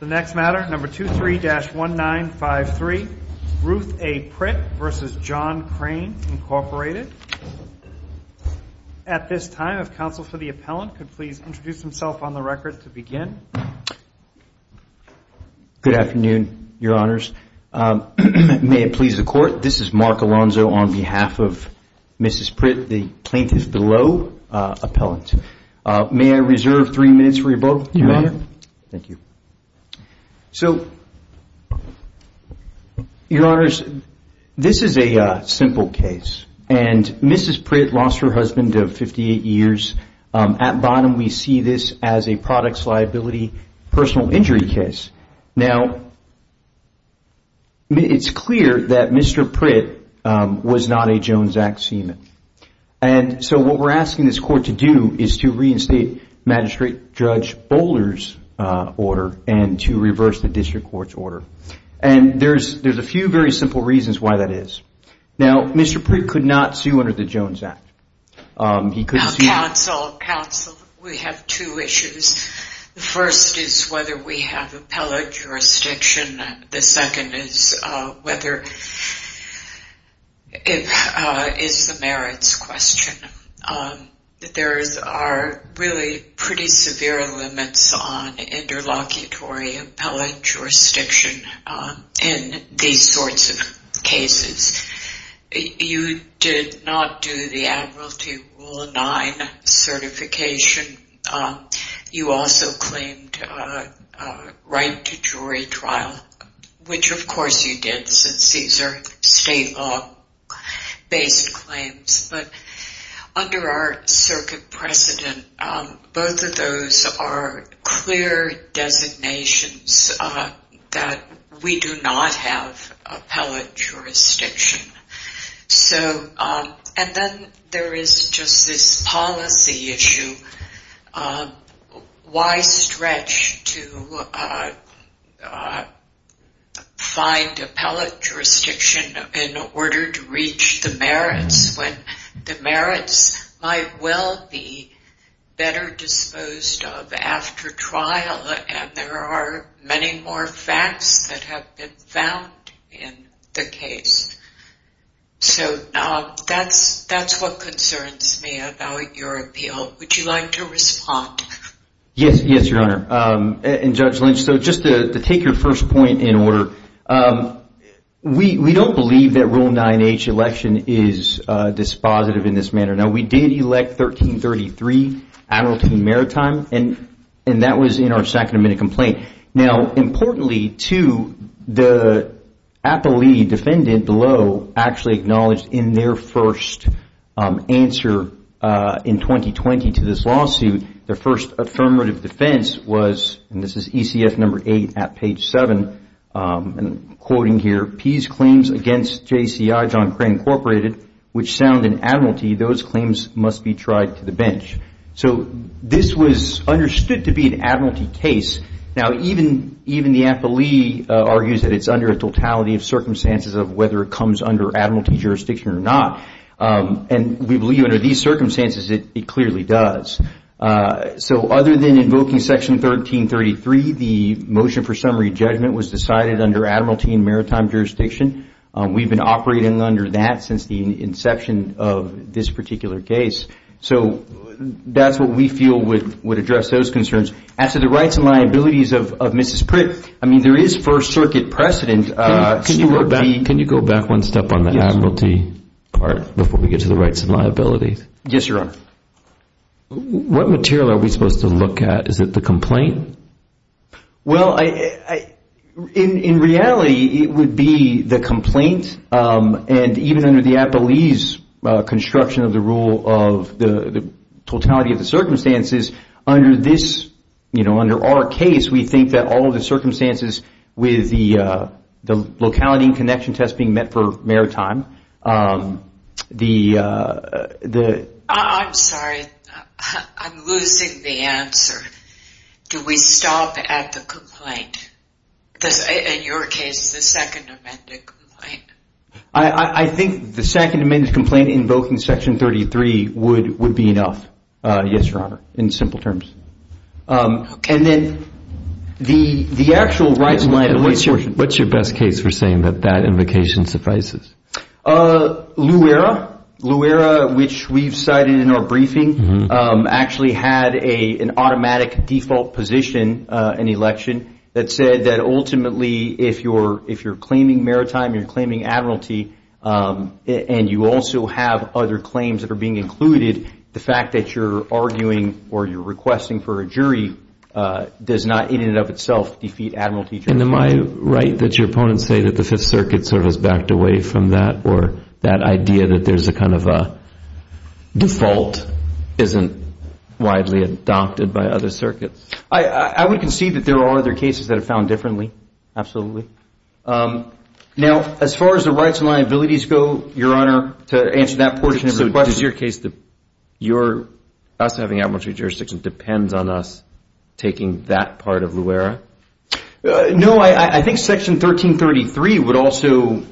The next matter, number 23-1953, Ruth A. Pritt v. John Crane Inc. At this time, if counsel for the appellant could please introduce himself on the record to begin. Good afternoon, Your Honors. May it please the Court, this is Mark Alonzo on behalf of Mrs. Pritt, the plaintiff below, appellant. May I reserve three minutes for you both, Your Honor? You may. Thank you. So, Your Honors, this is a simple case, and Mrs. Pritt lost her husband of 58 years. At bottom, we see this as a products liability personal injury case. Now, it's clear that Mr. Pritt was not a Jones Act seaman, and so what we're asking this Court to do is to reinstate Magistrate Judge Bowler's order and to reverse the District Court's order. And there's a few very simple reasons why that is. Now, Mr. Pritt could not sue under the Jones Act. Now, counsel, counsel, we have two issues. The first is whether we have appellate jurisdiction. The second is whether it is the merits question. There are really pretty severe limits on interlocutory appellate jurisdiction in these sorts of cases. You did not do the Admiralty Rule 9 certification. You also claimed right to jury trial, which, of course, you did since these are state law-based claims. But under our circuit precedent, both of those are clear designations that we do not have appellate jurisdiction. And then there is just this policy issue. Why stretch to find appellate jurisdiction in order to reach the merits when the merits might well be better disposed of after trial, and there are many more facts that have been found in the case. So that's what concerns me about your appeal. Would you like to respond? Yes, Your Honor. And Judge Lynch, so just to take your first point in order, we don't believe that Rule 9H election is dispositive in this manner. Now, we did elect 1333, Admiralty and Maritime, and that was in our second amendment complaint. Now, importantly, too, the appellee defendant below actually acknowledged in their first answer in 2020 to this lawsuit, their first affirmative defense was, and this is ECF number 8 at page 7, and I'm quoting here, Pease claims against JCI John Crane Incorporated, which sound in Admiralty, those claims must be tried to the bench. So this was understood to be an Admiralty case. Now, even the appellee argues that it's under a totality of circumstances of whether it comes under Admiralty jurisdiction or not, and we believe under these circumstances it clearly does. So other than invoking Section 1333, the motion for summary judgment was decided under Admiralty and Maritime jurisdiction. We've been operating under that since the inception of this particular case. So that's what we feel would address those concerns. As to the rights and liabilities of Mrs. Pritt, I mean there is First Circuit precedent. Can you go back one step on the Admiralty part before we get to the rights and liabilities? Yes, Your Honor. What material are we supposed to look at? Is it the complaint? Well, in reality it would be the complaint, and even under the appellee's construction of the rule of the totality of the circumstances, under our case we think that all of the circumstances with the locality and connection test being met for maritime, the... I'm sorry. I'm losing the answer. Do we stop at the complaint? In your case, the Second Amendment complaint. I think the Second Amendment complaint invoking Section 33 would be enough. Yes, Your Honor, in simple terms. Okay. And then the actual rights and liabilities... LUERA, which we've cited in our briefing, actually had an automatic default position in the election that said that ultimately if you're claiming maritime, you're claiming Admiralty, and you also have other claims that are being included, the fact that you're arguing or you're requesting for a jury does not in and of itself defeat Admiralty jurisdiction. And am I right that your opponents say that the Fifth Circuit sort of is backed away from that or that idea that there's a kind of a default isn't widely adopted by other circuits? I would concede that there are other cases that are found differently, absolutely. Now, as far as the rights and liabilities go, Your Honor, to answer that portion of the question... So does your case, your us having Admiralty jurisdiction depends on us taking that part of LUERA? No. I think Section 1333 would also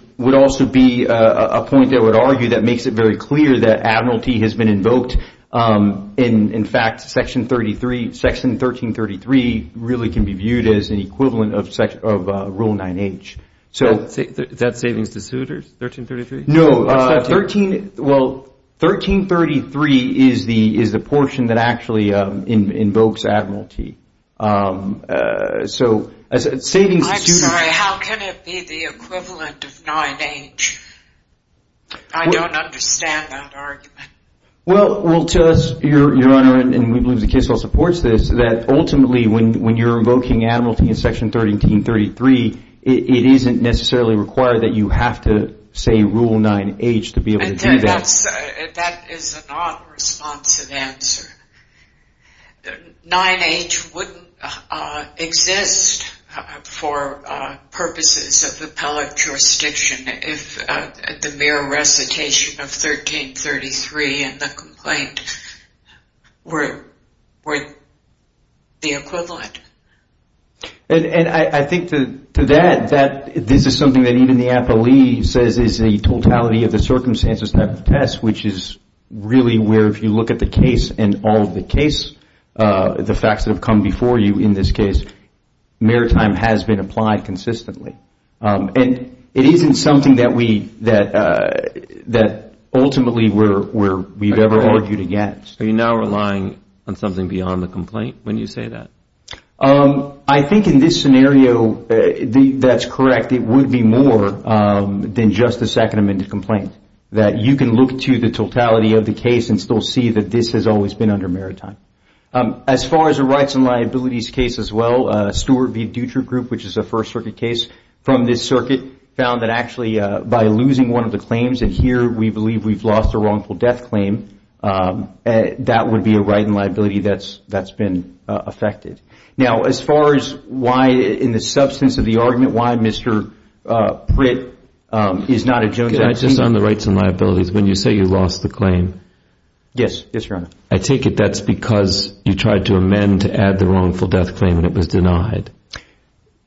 be a point I would argue that makes it very clear that Admiralty has been invoked. In fact, Section 1333 really can be viewed as an equivalent of Rule 9H. Is that savings to suitors, 1333? No. Well, 1333 is the portion that actually invokes Admiralty. I'm sorry, how can it be the equivalent of 9H? I don't understand that argument. Well, to us, Your Honor, and we believe the case law supports this, that ultimately when you're invoking Admiralty in Section 1333, it isn't necessarily required that you have to say Rule 9H to be able to do that. That is a non-responsive answer. 9H wouldn't exist for purposes of appellate jurisdiction if the mere recitation of 1333 in the complaint were the equivalent. And I think to that, this is something that even the appellee says is the totality of the circumstances type of test, which is really where if you look at the case and all of the facts that have come before you in this case, maritime has been applied consistently. And it isn't something that ultimately we've ever argued against. Are you now relying on something beyond the complaint when you say that? I think in this scenario, that's correct. In fact, it would be more than just a second amended complaint, that you can look to the totality of the case and still see that this has always been under maritime. As far as the rights and liabilities case as well, Stewart v. Dutra Group, which is a First Circuit case from this circuit, found that actually by losing one of the claims, and here we believe we've lost a wrongful death claim, that would be a right and liability that's been affected. Now, as far as why in the substance of the argument, why Mr. Pritt is not a Jones Act plaintiff. I just on the rights and liabilities, when you say you lost the claim. Yes, Your Honor. I take it that's because you tried to amend to add the wrongful death claim and it was denied.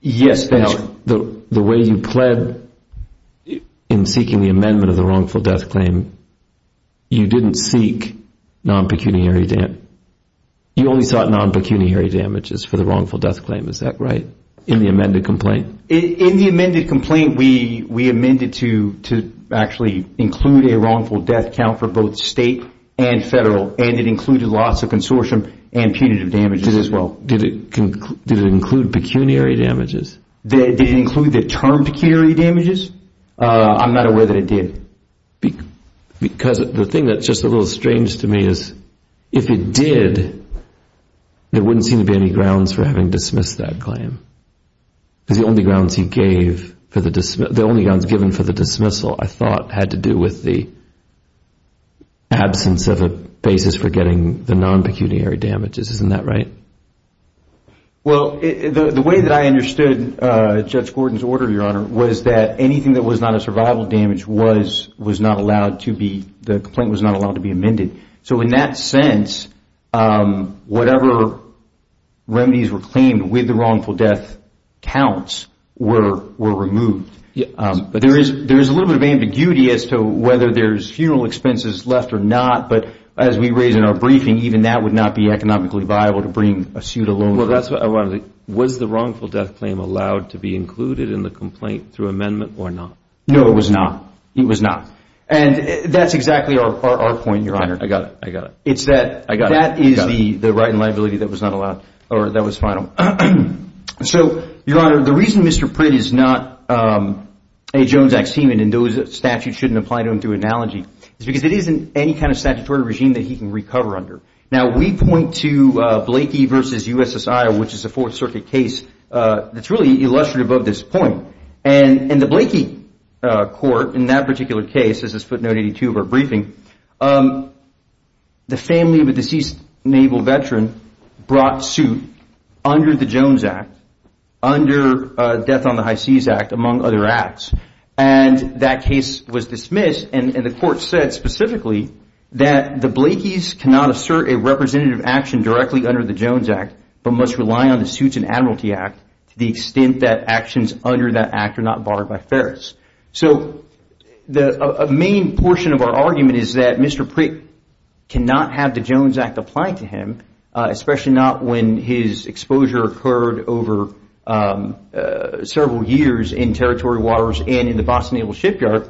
Yes, that's correct. Now, the way you pled in seeking the amendment of the wrongful death claim, you didn't seek non-pecuniary damage. You only sought non-pecuniary damages for the wrongful death claim. Is that right in the amended complaint? In the amended complaint, we amended to actually include a wrongful death count for both state and federal and it included loss of consortium and punitive damages as well. Did it include pecuniary damages? Did it include the term pecuniary damages? I'm not aware that it did. Because the thing that's just a little strange to me is if it did, there wouldn't seem to be any grounds for having dismissed that claim. Because the only grounds he gave, the only grounds given for the dismissal, I thought, had to do with the absence of a basis for getting the non-pecuniary damages. Isn't that right? Well, the way that I understood Judge Gordon's order, Your Honor, was that anything that was not a survival damage, the complaint was not allowed to be amended. So in that sense, whatever remedies were claimed with the wrongful death counts were removed. There is a little bit of ambiguity as to whether there's funeral expenses left or not, but as we raised in our briefing, even that would not be economically viable to bring a suit alone. Was the wrongful death claim allowed to be included in the complaint through amendment or not? No, it was not. It was not. And that's exactly our point, Your Honor. I got it. I got it. It's that that is the right and liability that was not allowed or that was final. So, Your Honor, the reason Mr. Print is not a Jones ex-human, and those statutes shouldn't apply to him through analogy, is because it isn't any kind of statutory regime that he can recover under. Now, we point to Blakey v. U.S.S. Iowa, which is a Fourth Circuit case that's really illustrative of this point. And in the Blakey court, in that particular case, this is footnote 82 of our briefing, the family of a deceased naval veteran brought suit under the Jones Act, under Death on the High Seas Act, among other acts, and that case was dismissed. And the court said specifically that the Blakeys cannot assert a representative action directly under the Jones Act but must rely on the Suits and Admiralty Act to the extent that actions under that act are not barred by Ferris. So a main portion of our argument is that Mr. Print cannot have the Jones Act applied to him, especially not when his exposure occurred over several years in territory waters and in the Boston Naval Shipyard,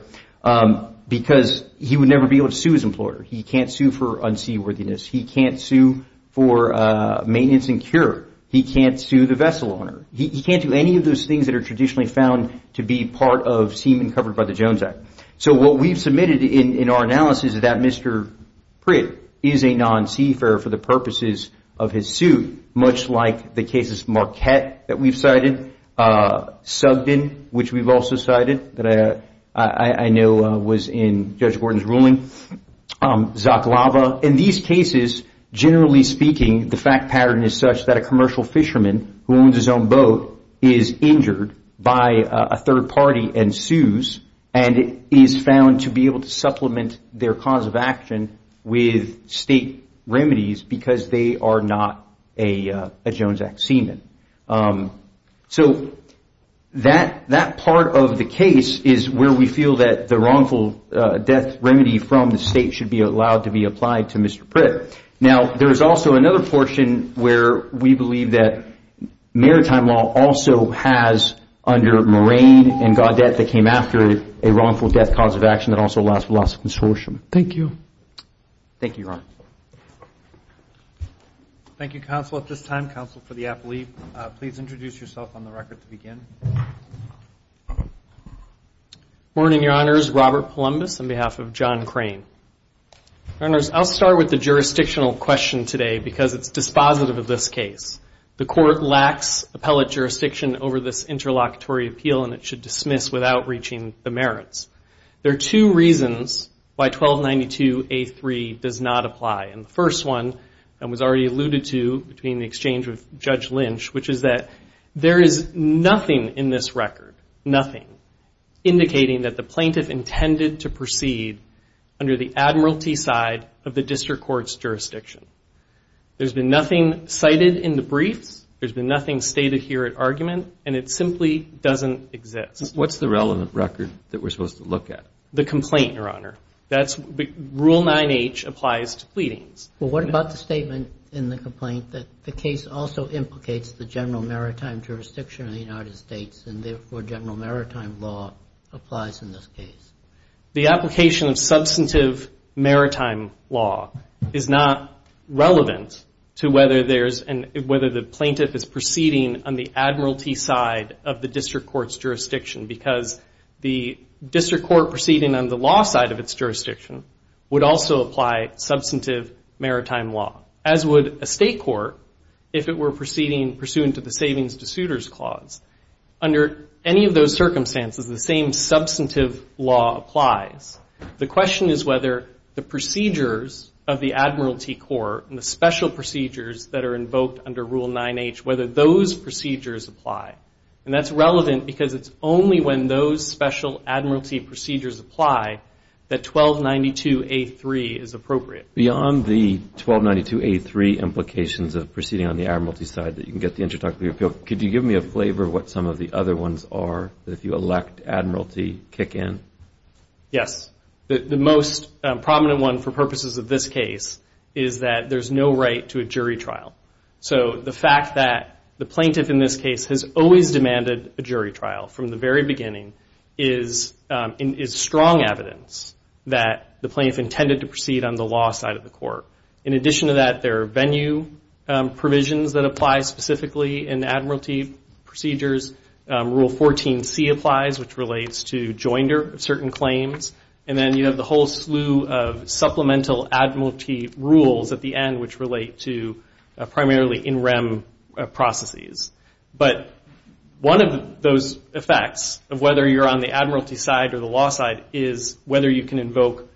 because he would never be able to sue his employer. He can't sue for unseaworthiness. He can't sue for maintenance and cure. He can't sue the vessel owner. He can't do any of those things that are traditionally found to be part of seamen covered by the Jones Act. So what we've submitted in our analysis is that Mr. Print is a non-seafarer for the purposes of his suit, much like the cases Marquette that we've cited, Sugden, which we've also cited, that I know was in Judge Gordon's ruling, Zaklava. In these cases, generally speaking, the fact pattern is such that a commercial fisherman who owns his own boat is injured by a third party and sues and is found to be able to supplement their cause of action with state remedies because they are not a Jones Act seaman. So that part of the case is where we feel that the wrongful death remedy from the state should be allowed to be applied to Mr. Print. Now, there is also another portion where we believe that maritime law also has, under Moraine and Gaudette, that came after a wrongful death cause of action that also allows for loss of consortium. Thank you. Thank you, Your Honor. Thank you, counsel. At this time, counsel for the apple leaf, please introduce yourself on the record to begin. Good morning, Your Honors. Robert Palumbis on behalf of John Crane. Your Honors, I'll start with the jurisdictional question today because it's dispositive of this case. The court lacks appellate jurisdiction over this interlocutory appeal, and it should dismiss without reaching the merits. There are two reasons why 1292A3 does not apply. And the first one, and was already alluded to between the exchange with Judge Lynch, which is that there is nothing in this record, nothing, indicating that the plaintiff intended to proceed under the admiralty side of the district court's jurisdiction. There's been nothing cited in the briefs. There's been nothing stated here at argument. And it simply doesn't exist. What's the relevant record that we're supposed to look at? The complaint, Your Honor. Rule 9H applies to pleadings. Well, what about the statement in the complaint that the case also implicates the general maritime jurisdiction of the United States and therefore general maritime law applies in this case? The application of substantive maritime law is not relevant to whether there's and whether the plaintiff is proceeding on the admiralty side of the district court's jurisdiction because the district court proceeding on the law side of its jurisdiction would also apply substantive maritime law, as would a state court if it were proceeding pursuant to the Savings to Suitors Clause. Under any of those circumstances, the same substantive law applies. The question is whether the procedures of the admiralty court and the special procedures that are invoked under Rule 9H, whether those procedures apply. And that's relevant because it's only when those special admiralty procedures apply that 1292A3 is appropriate. Beyond the 1292A3 implications of proceeding on the admiralty side that you can get the introductory appeal, could you give me a flavor of what some of the other ones are that if you elect admiralty kick in? Yes. The most prominent one for purposes of this case is that there's no right to a jury trial. So the fact that the plaintiff in this case has always demanded a jury trial from the very beginning is strong evidence that the plaintiff intended to proceed on the law side of the court. In addition to that, there are venue provisions that apply specifically in admiralty procedures. Rule 14C applies, which relates to joinder of certain claims. And then you have the whole slew of supplemental admiralty rules at the end, which relate to primarily in rem processes. But one of those effects of whether you're on the admiralty side or the law side is whether you can invoke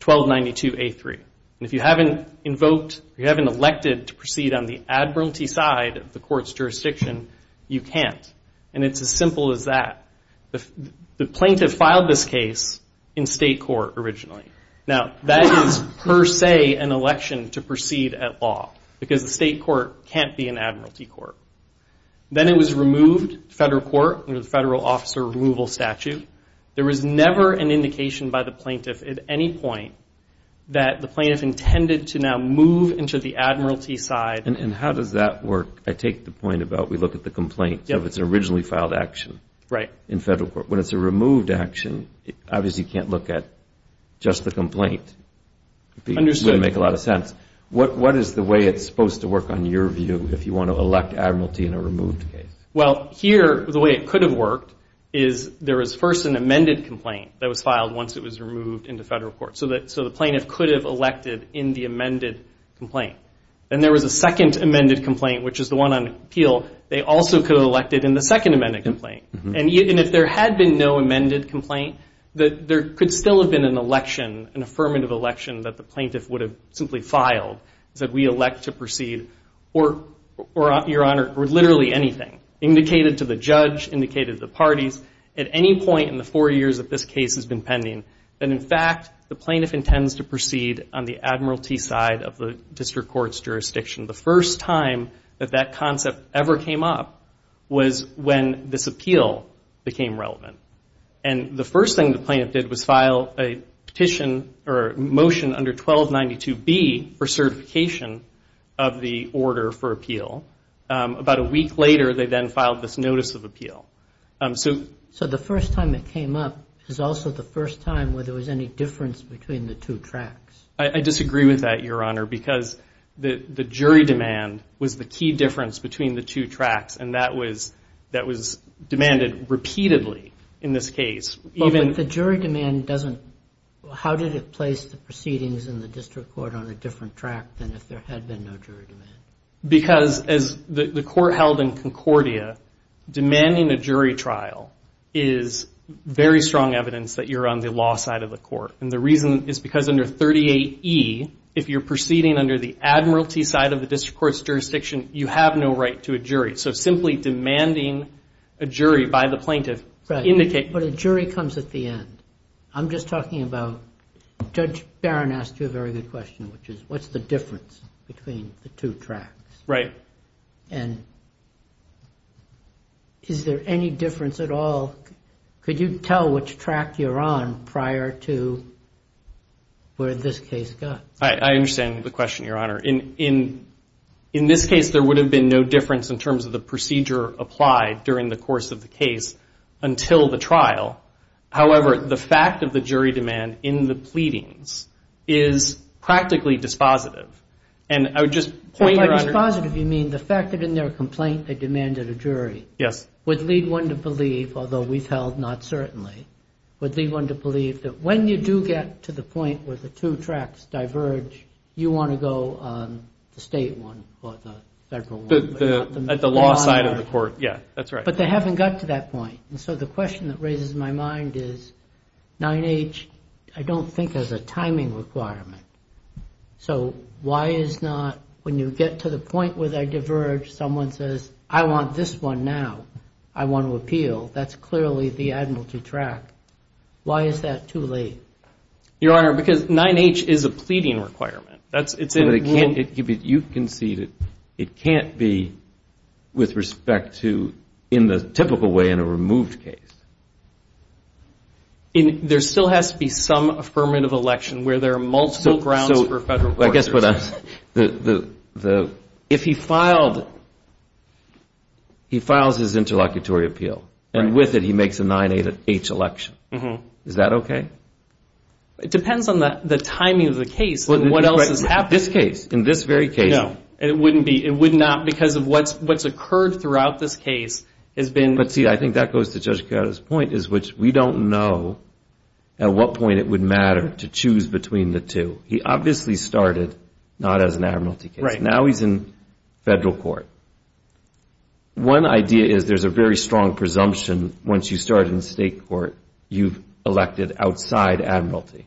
1292A3. And if you haven't invoked or you haven't elected to proceed on the admiralty side of the court's jurisdiction, you can't. And it's as simple as that. The plaintiff filed this case in state court originally. Now, that is per se an election to proceed at law because the state court can't be an admiralty court. Then it was removed to federal court under the federal officer removal statute. There was never an indication by the plaintiff at any point that the plaintiff intended to now move into the admiralty side. And how does that work? I take the point about we look at the complaint. So if it's an originally filed action in federal court. When it's a removed action, obviously you can't look at just the complaint. It wouldn't make a lot of sense. What is the way it's supposed to work on your view if you want to elect admiralty in a removed case? Well, here the way it could have worked is there was first an amended complaint that was filed once it was removed into federal court. So the plaintiff could have elected in the amended complaint. Then there was a second amended complaint, which is the one on appeal. They also could have elected in the second amended complaint. And if there had been no amended complaint, there could still have been an election, an affirmative election that the plaintiff would have simply filed. Said we elect to proceed or, Your Honor, or literally anything. Indicated to the judge, indicated to the parties. At any point in the four years that this case has been pending, that in fact the plaintiff intends to proceed on the admiralty side of the district court's jurisdiction. The first time that that concept ever came up was when this appeal became relevant. And the first thing the plaintiff did was file a petition or motion under 1292B for certification of the order for appeal. About a week later they then filed this notice of appeal. So the first time it came up is also the first time where there was any difference between the two tracks. I disagree with that, Your Honor, because the jury demand was the key difference between the two tracks. And that was demanded repeatedly in this case. But the jury demand doesn't, how did it place the proceedings in the district court on a different track than if there had been no jury demand? Because as the court held in Concordia, demanding a jury trial is very strong evidence that you're on the law side of the court. And the reason is because under 38E, if you're proceeding under the admiralty side of the district court's jurisdiction, you have no right to a jury. So simply demanding a jury by the plaintiff indicates... But a jury comes at the end. I'm just talking about, Judge Barron asked you a very good question, which is what's the difference between the two tracks? Right. And is there any difference at all? Could you tell which track you're on prior to where this case got? I understand the question, Your Honor. In this case, there would have been no difference in terms of the procedure applied during the course of the case until the trial. However, the fact of the jury demand in the pleadings is practically dispositive. And I would just point, Your Honor... By dispositive, you mean the fact that in their complaint they demanded a jury... Yes. Would lead one to believe, although we've held not certainly, would lead one to believe that when you do get to the point where the two tracks diverge, you want to go on the state one or the federal one. At the law side of the court. Yeah, that's right. But they haven't got to that point. And so the question that raises my mind is 9H, I don't think has a timing requirement. So why is not when you get to the point where they diverge, someone says, I want this one now. I want to appeal. That's clearly the admiralty track. Why is that too late? Your Honor, because 9H is a pleading requirement. You can see that it can't be with respect to in the typical way in a removed case. There still has to be some affirmative election where there are multiple grounds for federal courts. I guess what I'm saying, if he filed, he files his interlocutory appeal, and with it he makes a 9H election. Is that okay? It depends on the timing of the case and what else is happening. In this case, in this very case. No, it wouldn't be. It would not because of what's occurred throughout this case has been... But see, I think that goes to Judge Carado's point, which we don't know at what point it would matter to choose between the two. He obviously started not as an admiralty case. Now he's in federal court. One idea is there's a very strong presumption once you start in state court, you've elected outside admiralty.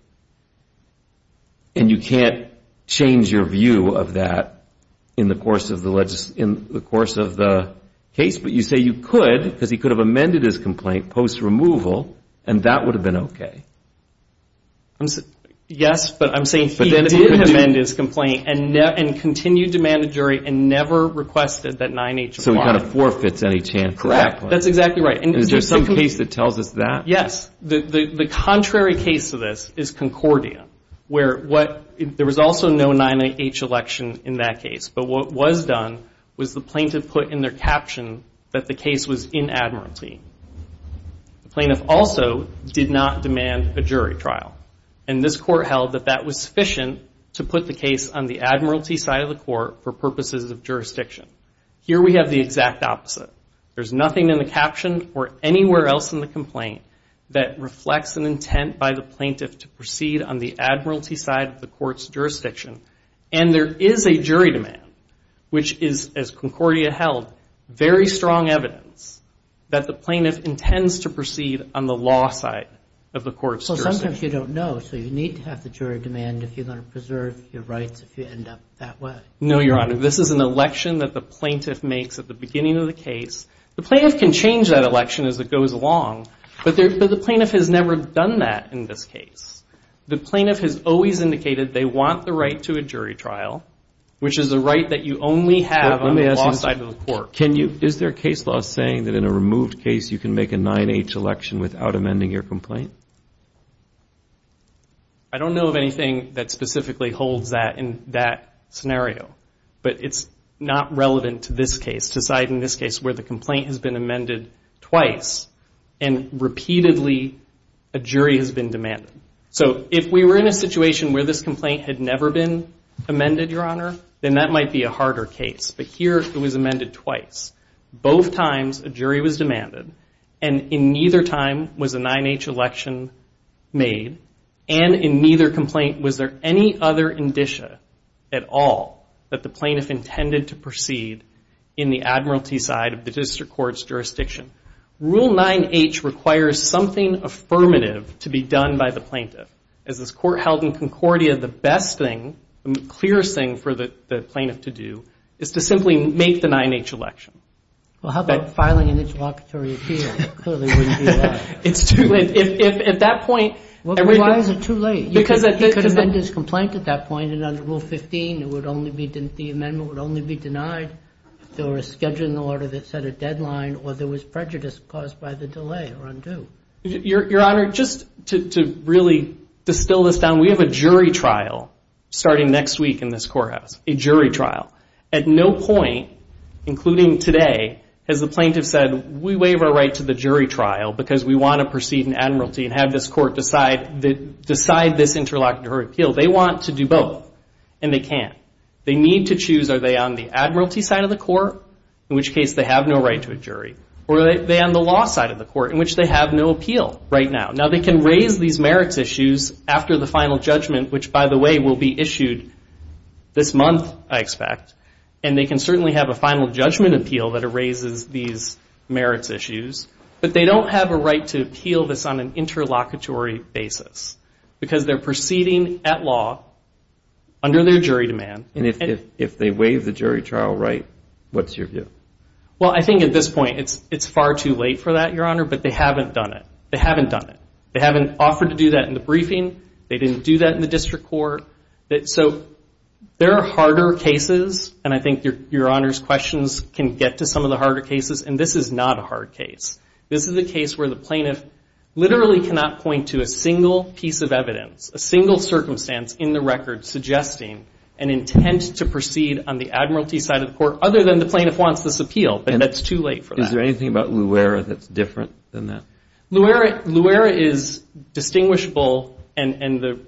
And you can't change your view of that in the course of the case. But you say you could because he could have amended his complaint post-removal, and that would have been okay. Yes, but I'm saying he did amend his complaint and continued to demand a jury and never requested that 9H. So he kind of forfeits any chance at that point. Correct. That's exactly right. Is there some case that tells us that? Yes. The contrary case to this is Concordia, where there was also no 9H election in that case. But what was done was the plaintiff put in their caption that the case was in admiralty. The plaintiff also did not demand a jury trial. And this court held that that was sufficient to put the case on the admiralty side of the court for purposes of jurisdiction. Here we have the exact opposite. There's nothing in the caption or anywhere else in the complaint that reflects an intent by the plaintiff to proceed on the admiralty side of the court's jurisdiction. And there is a jury demand, which is, as Concordia held, very strong evidence that the plaintiff intends to proceed on the law side of the court's jurisdiction. Well, sometimes you don't know, so you need to have the jury demand if you're going to preserve your rights if you end up that way. No, Your Honor. This is an election that the plaintiff makes at the beginning of the case. The plaintiff can change that election as it goes along, but the plaintiff has never done that in this case. The plaintiff has always indicated they want the right to a jury trial, which is a right that you only have on the law side of the court. Is there a case law saying that in a removed case you can make a 9-H election without amending your complaint? I don't know of anything that specifically holds that in that scenario, but it's not relevant to this case, where the complaint has been amended twice and repeatedly a jury has been demanded. So if we were in a situation where this complaint had never been amended, Your Honor, then that might be a harder case. But here it was amended twice. Both times a jury was demanded, and in neither time was a 9-H election made, and in neither complaint was there any other indicia at all that the plaintiff intended to proceed in the admiralty side of the district court's jurisdiction. Rule 9-H requires something affirmative to be done by the plaintiff. As this court held in Concordia, the best thing, the clearest thing for the plaintiff to do is to simply make the 9-H election. Well, how about filing an interlocutory appeal? Clearly wouldn't do that. Why is it too late? He could amend his complaint at that point, and under Rule 15, the amendment would only be denied if there were a schedule in the order that set a deadline, or there was prejudice caused by the delay or undue. Your Honor, just to really distill this down, we have a jury trial starting next week in this courthouse, a jury trial. At no point, including today, has the plaintiff said, we waive our right to the jury trial because we want to proceed in admiralty and have this court decide this interlocutory appeal. They want to do both, and they can't. They need to choose, are they on the admiralty side of the court, in which case they have no right to a jury, or are they on the law side of the court, in which they have no appeal right now. Now, they can raise these merits issues after the final judgment, which, by the way, will be issued this month, I expect. And they can certainly have a final judgment appeal that erases these merits issues, but they don't have a right to appeal this on an interlocutory basis because they're proceeding at law under their jury demand. And if they waive the jury trial right, what's your view? Well, I think at this point, it's far too late for that, Your Honor, but they haven't done it. They haven't offered to do that in the briefing. They didn't do that in the district court. So there are harder cases, and I think Your Honor's questions can get to some of the harder cases, and this is not a hard case. This is a case where the plaintiff literally cannot point to a single piece of evidence, a single circumstance in the record suggesting an intent to proceed on the admiralty side of the court other than the plaintiff wants this appeal, and that's too late for that. Is there anything about LUERA that's different than that? LUERA is distinguishable, and the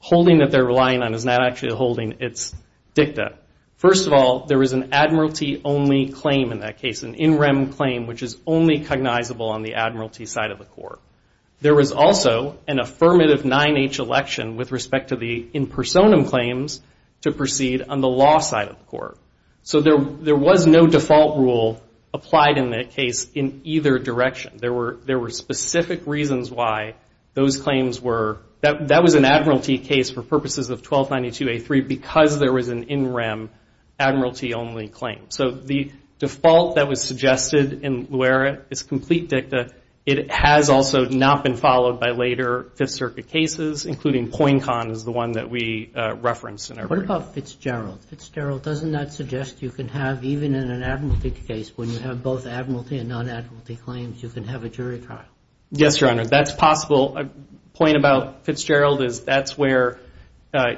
holding that they're relying on is not actually a holding. It's dicta. First of all, there is an admiralty-only claim in that case, an in rem claim, which is only cognizable on the admiralty side of the court. There was also an affirmative 9-H election with respect to the impersonum claims to proceed on the law side of the court. So there was no default rule applied in that case in either direction. There were specific reasons why those claims were – that was an admiralty case for purposes of 1292A3 because there was an in rem admiralty-only claim. So the default that was suggested in LUERA is complete dicta. It has also not been followed by later Fifth Circuit cases, including Poincan is the one that we referenced in our briefing. What about Fitzgerald? Fitzgerald, doesn't that suggest you can have, even in an admiralty case, when you have both admiralty and non-admiralty claims, you can have a jury trial? Yes, Your Honor. That's possible. A point about Fitzgerald is that's where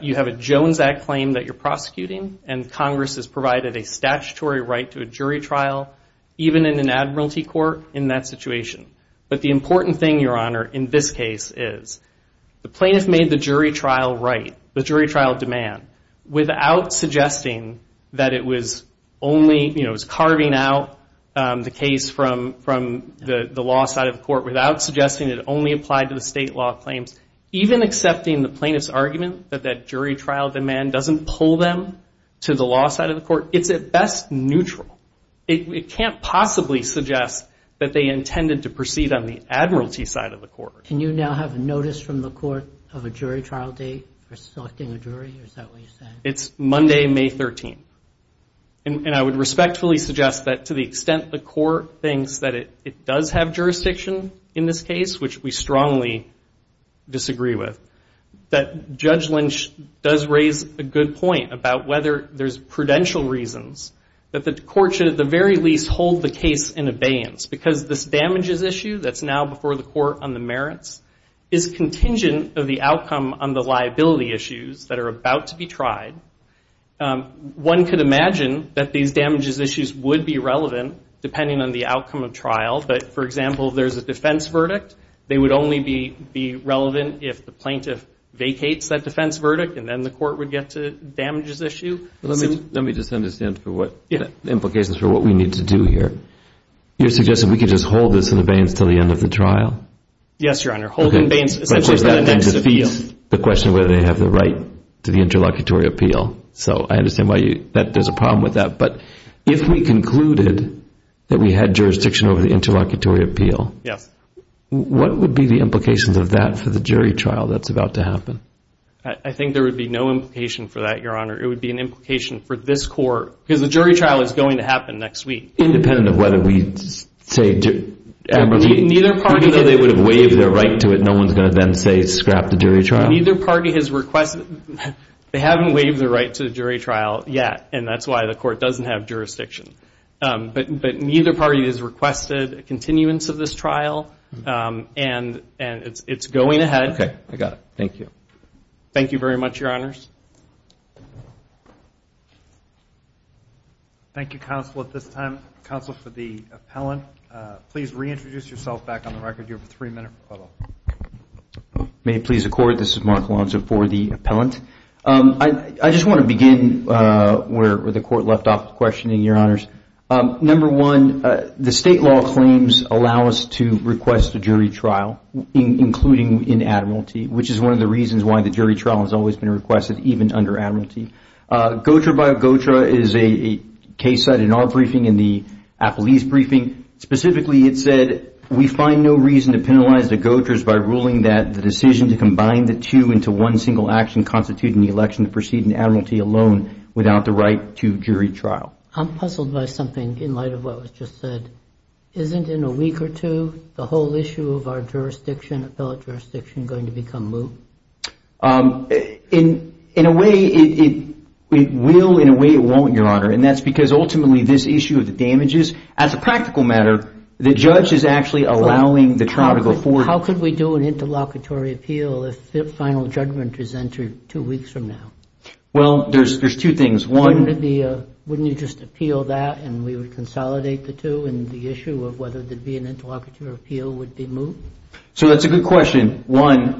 you have a Jones Act claim that you're prosecuting, and Congress has provided a statutory right to a jury trial, even in an admiralty court in that situation. But the important thing, Your Honor, in this case is the plaintiff made the jury trial right, the jury trial demand. Without suggesting that it was only – it was carving out the case from the law side of the court, without suggesting it only applied to the state law claims. Even accepting the plaintiff's argument that that jury trial demand doesn't pull them to the law side of the court, it's at best neutral. It can't possibly suggest that they intended to proceed on the admiralty side of the court. Can you now have a notice from the court of a jury trial date for selecting a jury? Is that what you're saying? It's Monday, May 13. And I would respectfully suggest that to the extent the court thinks that it does have jurisdiction in this case, which we strongly disagree with, that Judge Lynch does raise a good point about whether there's prudential reasons that the court should at the very least hold the case in abeyance. Because this damages issue that's now before the court on the merits is contingent of the outcome on the liability issues that are about to be tried. One could imagine that these damages issues would be relevant depending on the outcome of trial. But, for example, if there's a defense verdict, they would only be relevant if the plaintiff vacates that defense verdict and then the court would get to damages issue. Let me just understand the implications for what we need to do here. You're suggesting we could just hold this in abeyance until the end of the trial? Yes, Your Honor. Hold in abeyance essentially is the next appeal. But that defeats the question of whether they have the right to the interlocutory appeal. So I understand why there's a problem with that. But if we concluded that we had jurisdiction over the interlocutory appeal, what would be the implications of that for the jury trial that's about to happen? I think there would be no implication for that, Your Honor. It would be an implication for this court. Because the jury trial is going to happen next week. Independent of whether we say they would have waived their right to it, no one's going to then say scrap the jury trial? They haven't waived their right to the jury trial yet, and that's why the court doesn't have jurisdiction. But neither party has requested a continuance of this trial, and it's going ahead. Okay. I got it. Thank you. Thank you very much, Your Honors. Thank you, counsel, at this time. Counsel for the appellant, please reintroduce yourself back on the record. You have three minutes. May it please the court. This is Mark Lonzo for the appellant. I just want to begin where the court left off with questioning, Your Honors. Number one, the state law claims allow us to request a jury trial, including in admiralty, which is one of the reasons why the jury trial has always been requested, even under admiralty. GOTRA by GOTRA is a case cited in our briefing, in the appellee's briefing. Specifically, it said, we find no reason to penalize the GOTRAs by ruling that the decision to combine the two into one single action constituting the election to proceed in admiralty alone without the right to jury trial. I'm puzzled by something in light of what was just said. Isn't in a week or two the whole issue of our jurisdiction, appellate jurisdiction, going to become moot? In a way, it will. In a way, it won't, Your Honor. And that's because ultimately this issue of the damages, as a practical matter, the judge is actually allowing the trial to go forward. How could we do an interlocutory appeal if the final judgment is entered two weeks from now? Well, there's two things. Wouldn't you just appeal that and we would consolidate the two and the issue of whether there would be an interlocutory appeal would be moot? So that's a good question. One,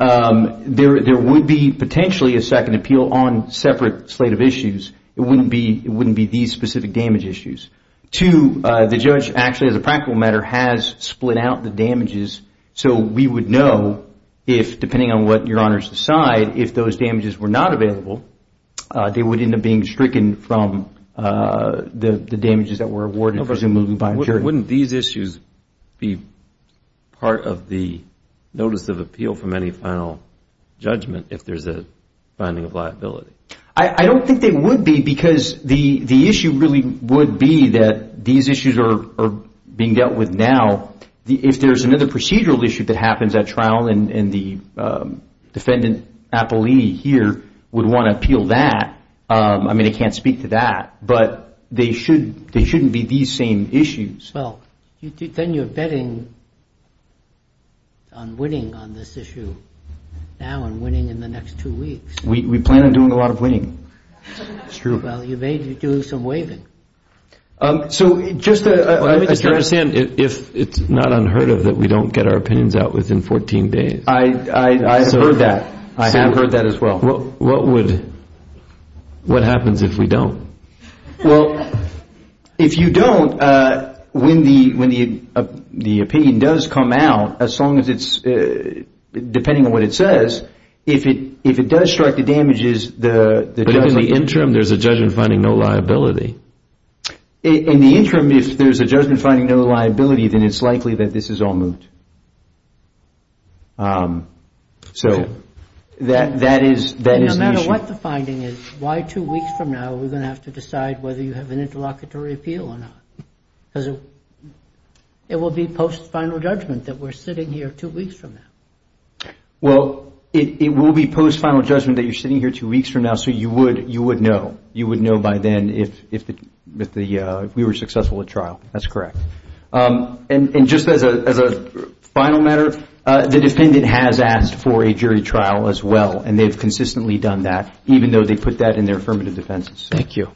there would be potentially a second appeal on separate slate of issues. It wouldn't be these specific damage issues. Two, the judge actually, as a practical matter, has split out the damages so we would know if, depending on what Your Honor's decide, if those damages were not available, they would end up being stricken from the damages that were awarded presumably by a jury. So wouldn't these issues be part of the notice of appeal from any final judgment if there's a finding of liability? I don't think they would be because the issue really would be that these issues are being dealt with now. If there's another procedural issue that happens at trial and the defendant appellee here would want to appeal that, I mean, I can't speak to that, but they shouldn't be these same issues. Well, then you're betting on winning on this issue now and winning in the next two weeks. We plan on doing a lot of winning, it's true. Well, you may do some waiving. Let me just understand if it's not unheard of that we don't get our opinions out within 14 days. I've heard that. I have heard that as well. What happens if we don't? Well, if you don't, when the opinion does come out, as long as it's, depending on what it says, if it does strike the damages, the judgment... But in the interim, there's a judgment finding no liability. In the interim, if there's a judgment finding no liability, then it's likely that this is all moved. So that is the issue. The other thing is, why two weeks from now are we going to have to decide whether you have an interlocutory appeal or not? Because it will be post-final judgment that we're sitting here two weeks from now. Well, it will be post-final judgment that you're sitting here two weeks from now, so you would know. You would know by then if we were successful at trial. That's correct. And just as a final matter, the defendant has asked for a jury trial as well, and they've consistently done that, even though they put that in their affirmative defense. Thank you.